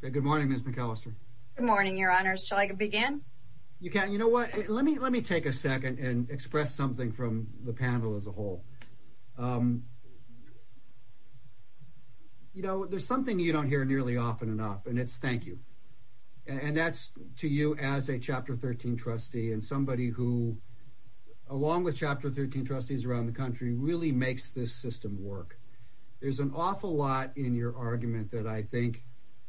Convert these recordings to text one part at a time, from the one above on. Good morning, Ms. McAllister. Good morning, Your Honors. Shall I begin? You can. You know what? Let me let me take a second and express something from the panel as a whole. You know, there's something you don't hear nearly often enough, and it's thank you. And that's to you as a Chapter 13 trustee and somebody who, along with Chapter 13 trustees around the country, really makes this system work. There's an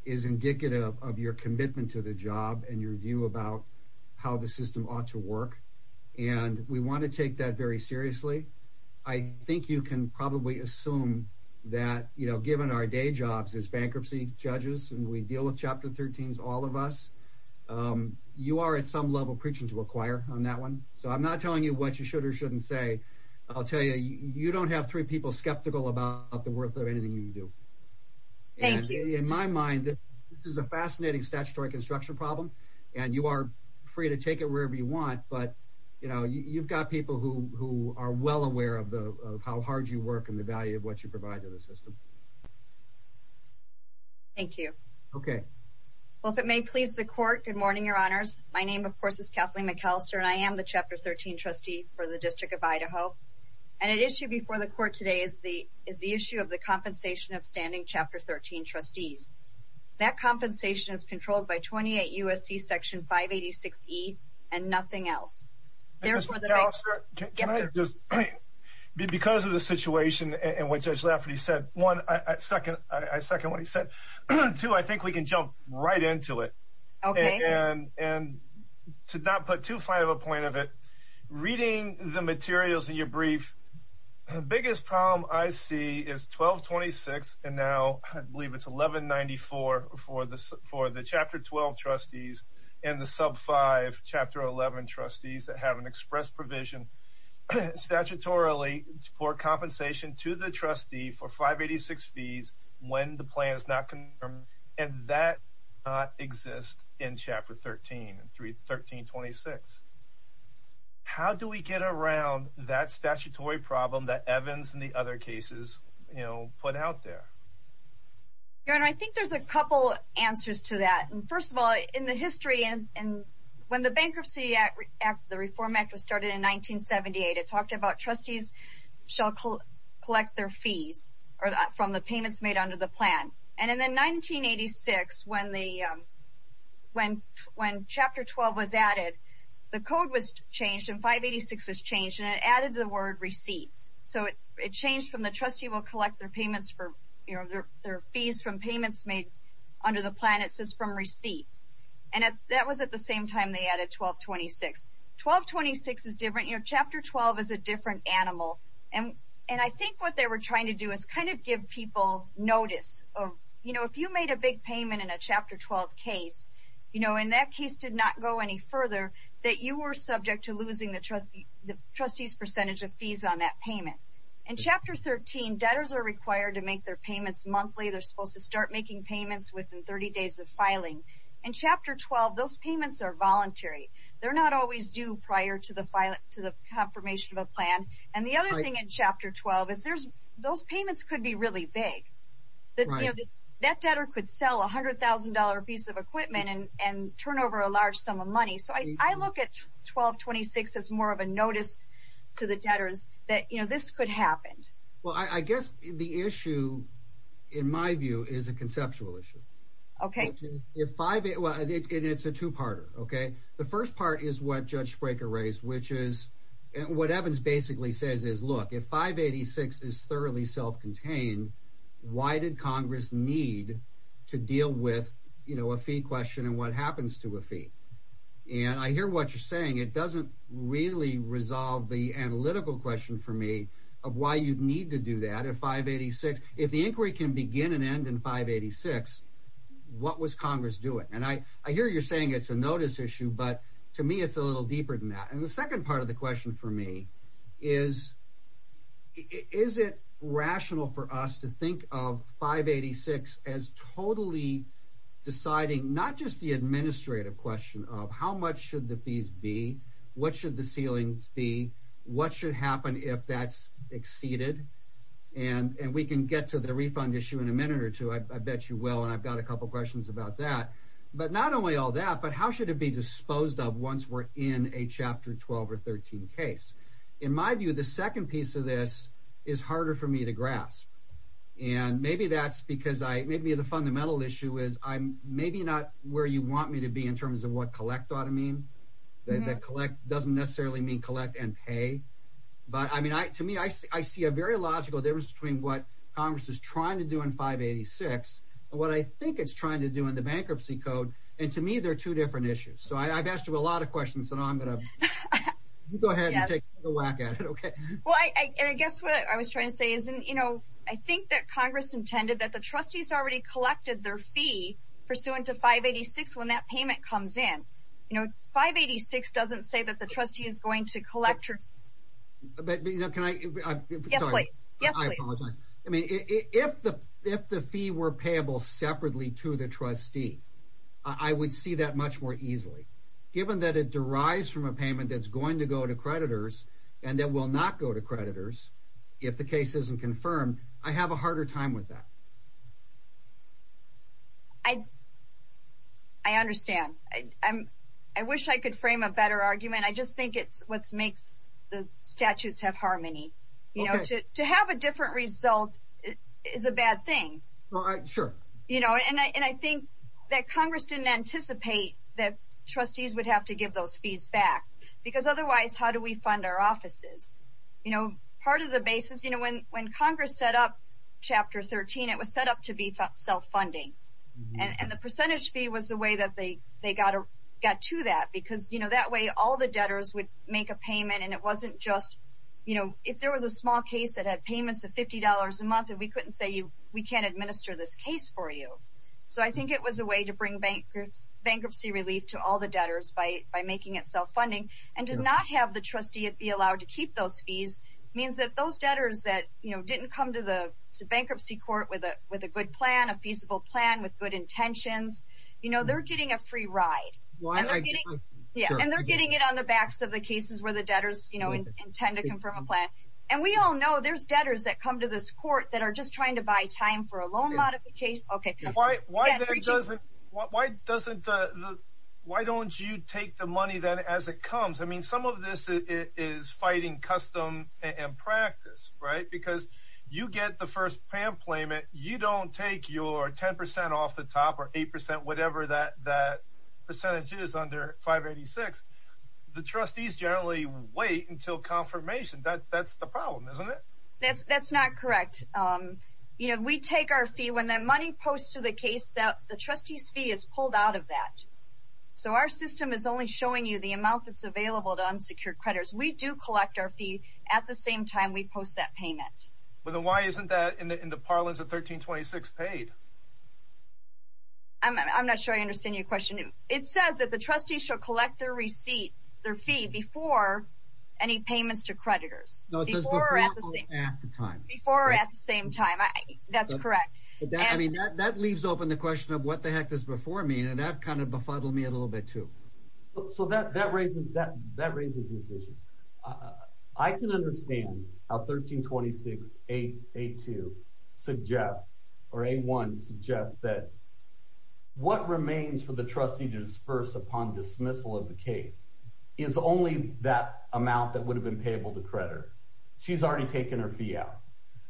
is indicative of your commitment to the job and your view about how the system ought to work. And we want to take that very seriously. I think you can probably assume that, you know, given our day jobs as bankruptcy judges, and we deal with Chapter 13's all of us, you are at some level preaching to a choir on that one. So I'm not telling you what you should or shouldn't say. I'll tell you, you don't have three people skeptical about the worth of anything you do. Thank you. In my mind, this is a fascinating statutory construction problem, and you are free to take it wherever you want. But, you know, you've got people who are well aware of how hard you work and the value of what you provide to the system. Thank you. Okay. Well, if it may please the court. Good morning, Your Honors. My name, of course, is Kathleen McAllister, and I am the Chapter 13 trustee for the District of Idaho. And an issue before the court today is the issue of the Chapter 13 trustees. That compensation is controlled by 28 U. S. C. Section 5 86 E and nothing else. There's more than just because of the situation and what Judge Lafferty said. One second. I second what he said, too. I think we can jump right into it and and to not put too far of a point of it. Reading the materials in your brief, the biggest problem I see is 12 26. And now I believe it's 11 94 for the for the Chapter 12 trustees in the sub five Chapter 11 trustees that have an express provision statutorily for compensation to the trustee for 5 86 fees when the plan is not confirmed. And that exist in Chapter 13 and 3 13 26. How do we get around that statutory problem that Evans and the other cases, you know, put out there? Your Honor, I think there's a couple answers to that. And first of all, in the history and when the Bankruptcy Act, the Reform Act was started in 1978, it talked about trustees shall collect their fees from the payments made under the plan. And in the 1986, when the when when Chapter 12 was added, the code was changed and 5 86 was changed and it added the word receipts. So it changed from the trustee will collect their payments for their fees from payments made under the planet says from receipts. And that was at the same time they added 12 26 12 26 is different. Your Chapter 12 is a different animal. And I think what they were trying to do is kind of give people notice of, you know, if you made a big payment in a Chapter 12 case, you know, in that case did not go any further, that you were subject to losing the trustee, the trustees percentage of fees on that payment. And Chapter 13 debtors are required to make their payments monthly, they're supposed to start making payments within 30 days of filing. And Chapter 12, those payments are voluntary. They're not always due prior to the file to the confirmation of a thing in Chapter 12 is there's those payments could be really big. That debtor could sell $100,000 piece of equipment and turn over a large sum of money. So I look at 1226 is more of a notice to the debtors that you know, this could happen. Well, I guess the issue, in my view is a conceptual issue. Okay, if five it was, it's a two parter. Okay. The first part is what Judge Spraker raised, which is what Evans basically says is, look, if 586 is thoroughly self contained, why did Congress need to deal with, you know, a fee question and what happens to a fee? And I hear what you're saying. It doesn't really resolve the analytical question for me of why you'd need to do that at 586. If the inquiry can begin and end in 586. What was Congress doing? And I, I hear you're saying it's a notice issue. But to me, it's a little deeper than that. And the second part of the question for me is, is it rational for us to think of 586 as totally deciding not just the administrative question of how much should the fees be? What should the ceilings be? What should happen if that's exceeded? And we can get to the refund issue in a minute or two, I bet you will. And I've got a couple questions about that. But not only all that, but how should it be disposed of once we're in a chapter 12 or 13 case? In my view, the second piece of this is harder for me to grasp. And maybe that's because I maybe the fundamental issue is I'm maybe not where you want me to be in terms of what collect ought to mean that collect doesn't necessarily mean collect and pay. But I mean, I to me, I see a very logical difference between what Congress is trying to do in 586. And what I think it's trying to do in the two different issues. So I've asked you a lot of questions. And I'm going to go ahead and take a whack at it. Okay. Well, I guess what I was trying to say is, you know, I think that Congress intended that the trustees already collected their fee pursuant to 586. When that payment comes in, you know, 586 doesn't say that the trustee is going to collect her. But you know, can I apologize? I mean, if the if the fee were payable separately to the trustee, I would see that much more easily, given that it derives from a payment that's going to go to creditors, and that will not go to creditors. If the case isn't confirmed, I have a harder time with that. I I understand. I'm, I wish I could frame a better argument. I just think it's what's makes the statutes have harmony. You know, to have a different result is a bad thing. You know, and I think that Congress didn't anticipate that trustees would have to give those fees back. Because otherwise, how do we fund our offices? You know, part of the basis, you know, when when Congress set up chapter 13, it was set up to be self funding. And the percentage fee was the way that they they got to that because you know, that way all the debtors would make a payment and it wasn't just, you know, if there was a small case that had payments of $50 a month, you can't administer this case for you. So I think it was a way to bring bankruptcy relief to all the debtors by by making it self funding, and to not have the trustee be allowed to keep those fees means that those debtors that, you know, didn't come to the bankruptcy court with a with a good plan, a feasible plan with good intentions, you know, they're getting a free ride. Yeah, and they're getting it on the backs of the cases where the debtors, you know, intend to confirm a plan. And we all know there's debtors that come to this court that are just trying to buy time for a loan modification. Okay, why? Why? Why doesn't why don't you take the money that as it comes? I mean, some of this is fighting custom and practice, right? Because you get the first payment, you don't take your 10% off the top or 8%, whatever that that percentage is under 586. The trustees generally wait until confirmation that that's the problem, that's that's not correct. Um, you know, we take our fee when that money post to the case that the trustees fee is pulled out of that. So our system is only showing you the amount that's available to unsecured creditors. We do collect our fee at the same time we post that payment. But why isn't that in the parlance of 1326 paid? I'm not sure I understand your question. It says that the trustees shall collect their receipt, their fee before any payments to creditors before at the same time before at the same time. That's correct. I mean, that leaves open the question of what the heck is before me. And that kind of befuddled me a little bit, too. So that that raises that that raises this issue. I can understand how 1326 882 suggests or a one suggests that what remains for the trustee to disperse upon dismissal of the case is only that amount that would have been payable to creditors. She's already taken her fee out.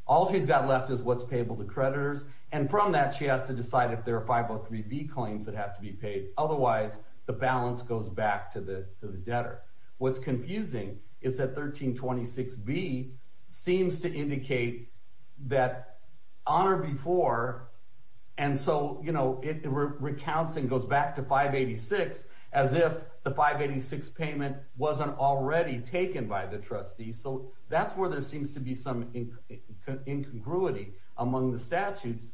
All she's got left is what's payable to creditors. And from that, she has to decide if there are 503 B claims that have to be paid. Otherwise, the balance goes back to the debtor. What's confusing is that 1326 B seems to 586 as if the 586 payment wasn't already taken by the trustee. So that's where there seems to be some incongruity among the statutes.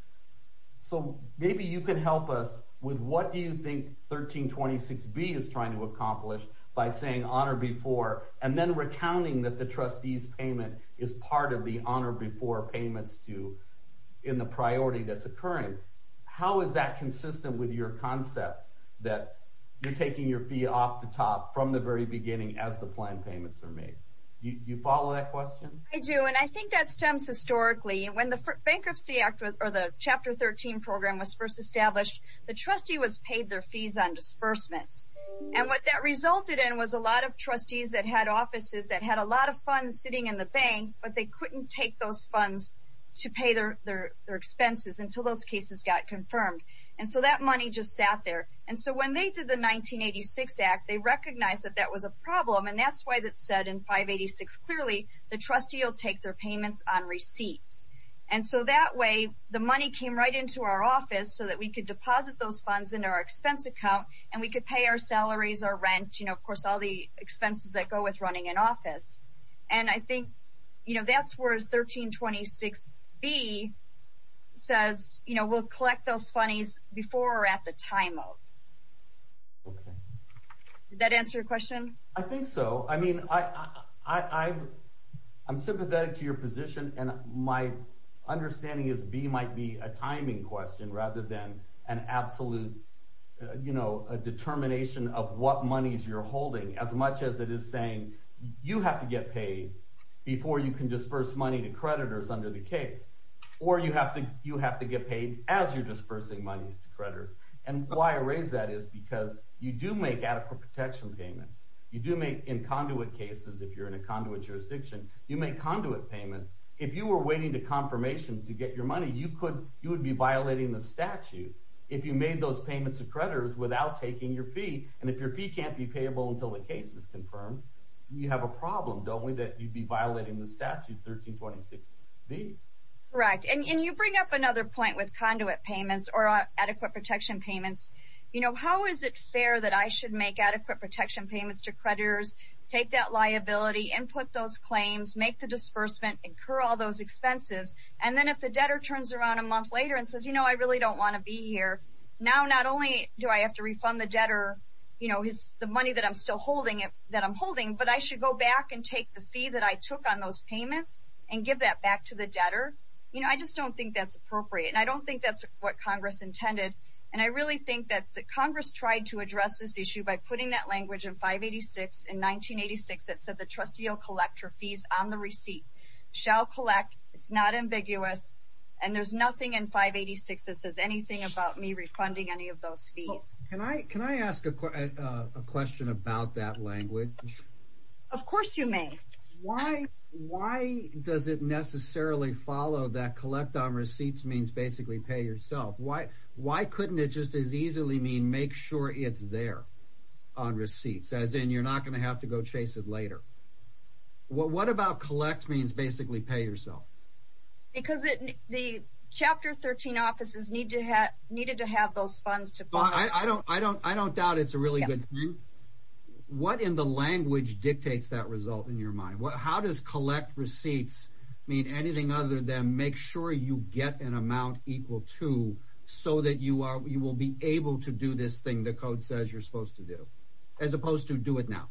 So maybe you could help us with what do you think 1326 B is trying to accomplish by saying honor before and then recounting that the trustees payment is part of the honor before payments to in the priority that's occurring. How is that that you're taking your fee off the top from the very beginning as the plan payments are made? You follow that question? I do. And I think that stems historically when the Bankruptcy Act or the Chapter 13 program was first established, the trustee was paid their fees on disbursements. And what that resulted in was a lot of trustees that had offices that had a lot of funds sitting in the bank, but they couldn't take those funds to pay their expenses until those cases got confirmed. And so that money just sat there. And so when they did the 1986 Act, they recognized that that was a problem and that's why that said in 586 clearly the trustee will take their payments on receipts. And so that way the money came right into our office so that we could deposit those funds into our expense account and we could pay our salaries or rent you know of course all the expenses that go with running an office. And I think you says you know we'll collect those funnies before or at the time out. Okay. Did that answer your question? I think so. I mean I I'm sympathetic to your position and my understanding is B might be a timing question rather than an absolute you know a determination of what monies you're holding as much as it is saying you have to get paid before you can disperse money to creditors under the case. Or you have to you have to get paid as you're dispersing monies to creditors. And why I raise that is because you do make adequate protection payments. You do make in conduit cases if you're in a conduit jurisdiction you make conduit payments. If you were waiting to confirmation to get your money you could you would be violating the statute if you made those payments of creditors without taking your fee. And if your fee can't be payable until the case is confirmed you have a problem don't we that you'd be violating the correct. And you bring up another point with conduit payments or adequate protection payments. You know how is it fair that I should make adequate protection payments to creditors take that liability and put those claims make the disbursement incur all those expenses. And then if the debtor turns around a month later and says you know I really don't want to be here. Now not only do I have to refund the debtor you know his the money that I'm still holding it that I'm holding but I should go back and take the fee that I took on those payments and give that back to the debtor. You know I just don't think that's appropriate and I don't think that's what Congress intended. And I really think that the Congress tried to address this issue by putting that language in 586 in 1986 that said the trustee you'll collect your fees on the receipt shall collect it's not ambiguous and there's nothing in 586 that says anything about me refunding any of those fees. Can I can I ask a question about that language? Of course you may. Why why does it necessarily follow that collect on receipts means basically pay yourself? Why why couldn't it just as easily mean make sure it's there on receipts as in you're not going to have to go chase it later? Well what about collect means basically pay yourself? Because it the chapter 13 offices need to have needed to have those funds. I don't I don't I really good. What in the language dictates that result in your mind? Well how does collect receipts mean anything other than make sure you get an amount equal to so that you are you will be able to do this thing the code says you're supposed to do as opposed to do it now?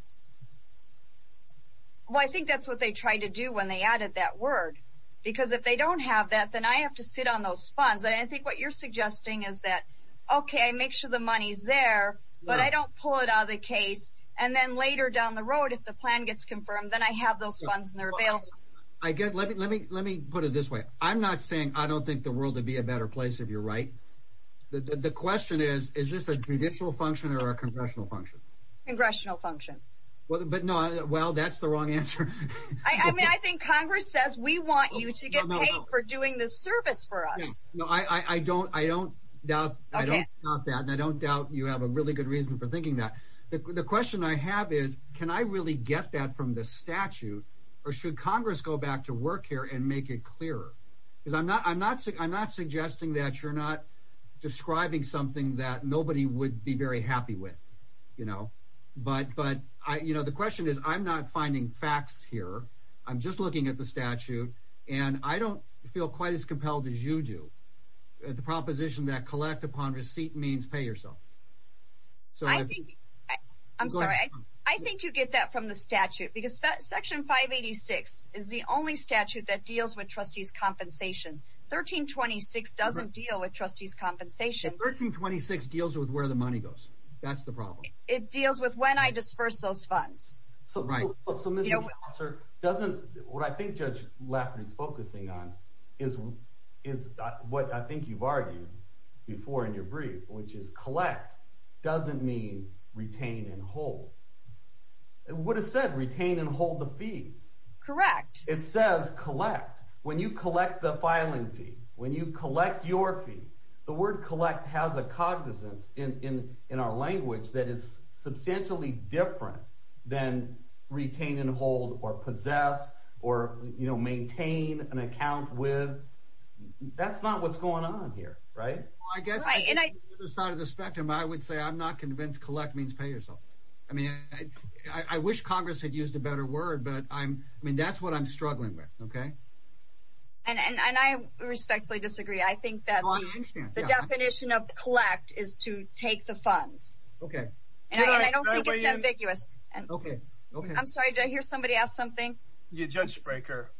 Well I think that's what they tried to do when they added that word because if they don't have that then I have to sit on those funds. I think what you're suggesting is that okay I make sure the money's there but I don't pull it out of the case and then later down the road if the plan gets confirmed then I have those funds in their bail. I get let me let me put it this way I'm not saying I don't think the world would be a better place if you're right. The question is is this a judicial function or a congressional function? Congressional function. Well but no well that's the wrong answer. I mean I think Congress says we want you to get paid for doing this service for us. No I I don't I don't doubt that I don't doubt you have a really good reason for thinking that. The question I have is can I really get that from the statute or should Congress go back to work here and make it clearer? Because I'm not I'm not sick I'm not suggesting that you're not describing something that nobody would be very happy with you know but but I you know the question is I'm not finding facts here I'm just looking at the feel quite as compelled as you do. The proposition that collect upon receipt means pay yourself. So I think I'm sorry I think you get that from the statute because that section 586 is the only statute that deals with trustees compensation. 1326 doesn't deal with trustees compensation. 1326 deals with where the money goes. That's the problem. It deals with when I disperse those is is what I think you've argued before in your brief which is collect doesn't mean retain and hold. It would have said retain and hold the fee. Correct. It says collect. When you collect the filing fee, when you collect your fee, the word collect has a cognizance in in in our language that is substantially different than retain and hold or possess or you know maintain an account with. That's not what's going on here, right? I guess on the other side of the spectrum I would say I'm not convinced collect means pay yourself. I mean I wish Congress had used a better word but I'm I mean that's what I'm struggling with, okay? And and I respectfully disagree. I think that the definition of collect is to take the and okay. I'm sorry to hear somebody ask something. You judge breaker.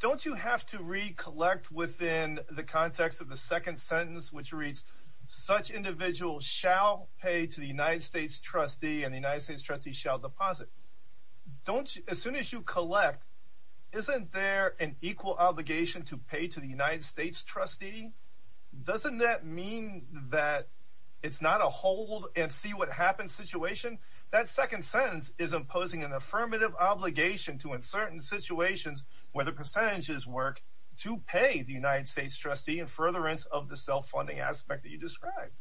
Don't you have to recollect within the context of the second sentence which reads such individuals shall pay to the United States trustee and the United States trustee shall deposit. Don't as soon as you collect, isn't there an equal obligation to pay to the United States trustee? Doesn't that mean that it's not a hold and see what happens situation? That second sentence is imposing an affirmative obligation to in certain situations where the percentages work to pay the United States trustee in furtherance of the self-funding aspect that you described.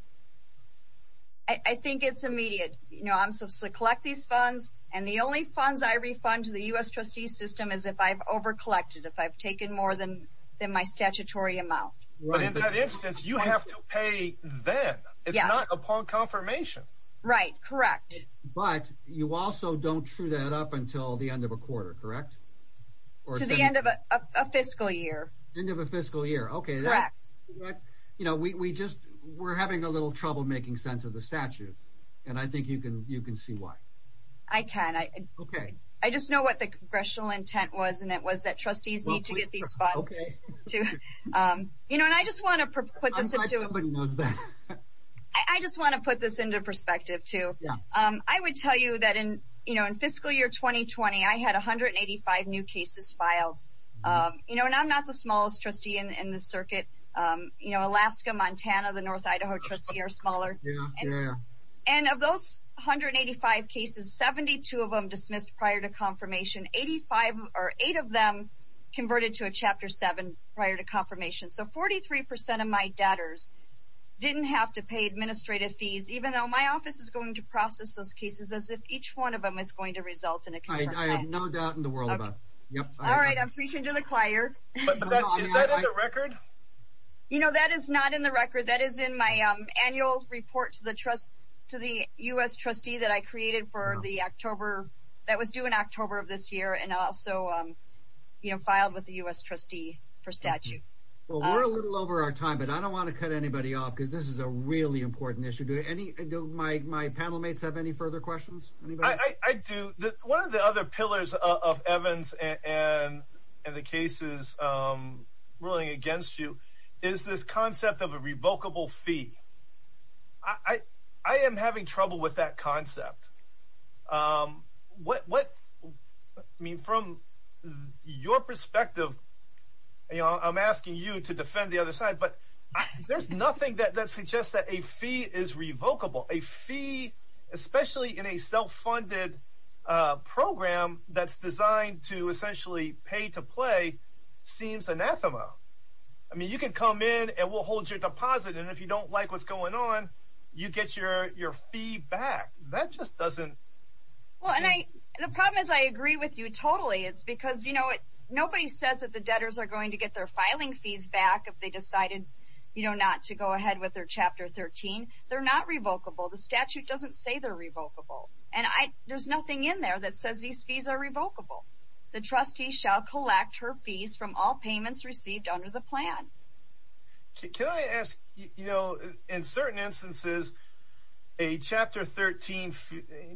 I think it's immediate. You know I'm supposed to collect these funds and the only funds I refund to the US trustee system is if I've over collected, if I've taken more than than my statutory amount. But in confirmation. Right, correct. But you also don't true that up until the end of a quarter, correct? Or to the end of a fiscal year. End of a fiscal year, okay. Correct. You know we just we're having a little trouble making sense of the statute and I think you can you can see why. I can. Okay. I just know what the congressional intent was and it was that trustees need to get these funds. Okay. You know and I just want to put this into perspective too. I would tell you that in you know in fiscal year 2020 I had 185 new cases filed. You know and I'm not the smallest trustee in the circuit. You know Alaska, Montana, the North Idaho trustee are smaller. And of those 185 cases, 72 of them dismissed prior to confirmation. So 43% of my debtors didn't have to pay administrative fees even though my office is going to process those cases as if each one of them is going to result in a contract. I have no doubt in the world about that. Yep. All right I'm preaching to the choir. Is that in the record? You know that is not in the record. That is in my annual report to the trust to the US trustee that I created for the October that was due in October of this year and also you know filed with the US trustee for statute. Well we're a little over our time but I don't want to cut anybody off because this is a really important issue. Do any of my panel mates have any further questions? I do. One of the other pillars of Evans and the cases ruling against you is this concept of a revocable fee. I am having trouble with that concept. What I mean from your perspective you know I'm asking you to defend the other side but there's nothing that suggests that a fee is revocable. A fee especially in a self-funded program that's designed to essentially pay to play seems anathema. I mean you can come in and we'll hold your deposit and if you don't like what's going on you get your your fee back. That just doesn't. Well and I the problem is I agree with you totally it's because you know it nobody says that the debtors are going to get their filing fees back if they decided you know not to go ahead with their chapter 13. They're not revocable. The statute doesn't say they're revocable and I there's nothing in there that says these fees are revocable. The trustee shall collect her fees from all payments received under the plan. Can I ask you know in certain instances a chapter 13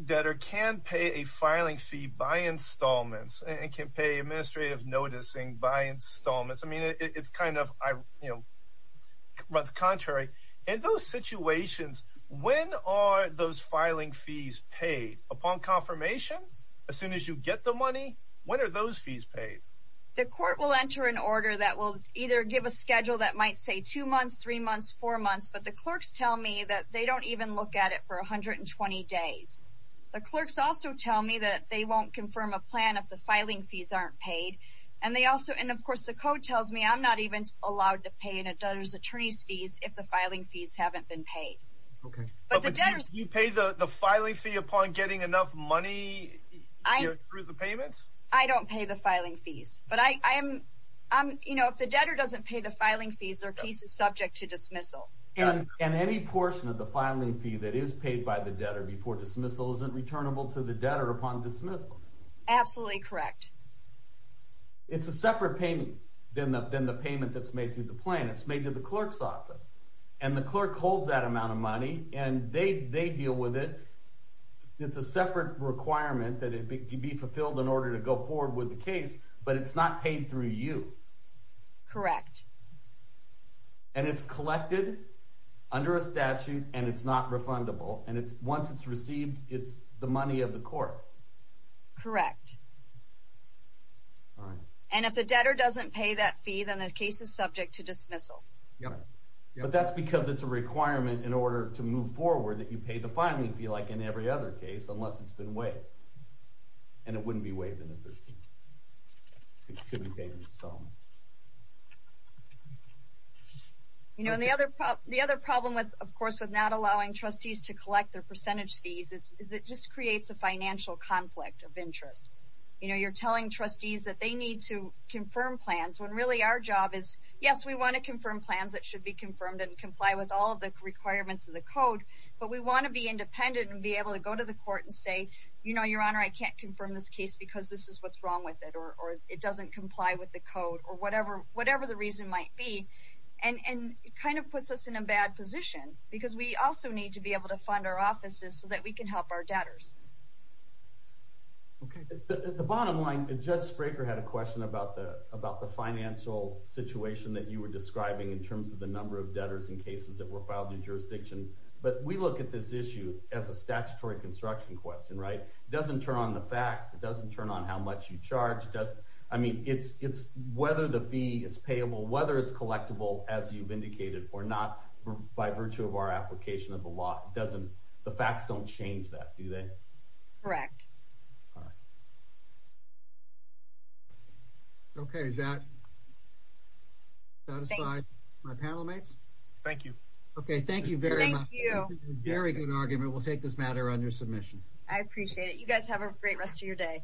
debtor can pay a filing fee by installments and can pay administrative noticing by installments. I mean it's kind of I you know but the contrary in those situations when are those filing fees paid? Upon confirmation as soon as you get the money when are those fees paid? The court will enter an order that will either give a schedule that might say two months three months four months but the clerks tell me that they don't even look at it for a hundred and twenty days. The clerks also tell me that they won't confirm a plan if the filing fees aren't paid and they also and of course the code tells me I'm not even allowed to pay in a debtor's attorney's fees if the filing fees haven't been paid. You pay the filing fee upon getting enough money through the payments? I don't pay the filing fees but I am you know if the debtor doesn't pay the filing fees their case is subject to dismissal. And any portion of the filing fee that is paid by the debtor before dismissal isn't returnable to the debtor upon dismissal? Absolutely correct. It's a separate payment than the payment that's made through the plan. It's made to the clerk's office and the clerk holds that amount of money and they deal with it. It's a separate requirement that it be fulfilled in order to go forward with the case but it's not paid through you. Correct. And it's collected under a statute and it's not refundable and it's once it's received it's the money of the court. Correct. And if the debtor doesn't pay that fee then the case is subject to dismissal. Yeah but that's because it's a requirement in order to move forward that you pay the filing fee like in every other case unless it's been waived. And it wouldn't be waived. You know the other problem with of course with not allowing trustees to collect their percentage fees is it just creates a financial conflict of interest. You know you're telling trustees that they need to confirm plans when really our job is yes we want to confirm plans that should be confirmed and comply with all the requirements of the code but we want to be independent and be able to go to the court and say you know your honor I can't confirm this case because this is what's wrong with it or it doesn't comply with the code or whatever the reason might be and it kind of puts us in a bad position because we also need to be able to fund our offices so that we can help our debtors. The bottom line, Judge Spraker had a question about the about the financial situation that you were describing in the number of debtors in cases that were filed in your jurisdiction but we look at this issue as a statutory construction question, right? It doesn't turn on the facts. It doesn't turn on how much you charge. I mean it's whether the fee is payable, whether it's collectible as you've indicated or not by virtue of our application of the law. The facts don't change that, do they? Correct. Okay, is that satisfied, my panel mates? Thank you. Okay, thank you very much. Very good argument. We'll take this matter under submission. I appreciate it. You guys have a great rest of your day.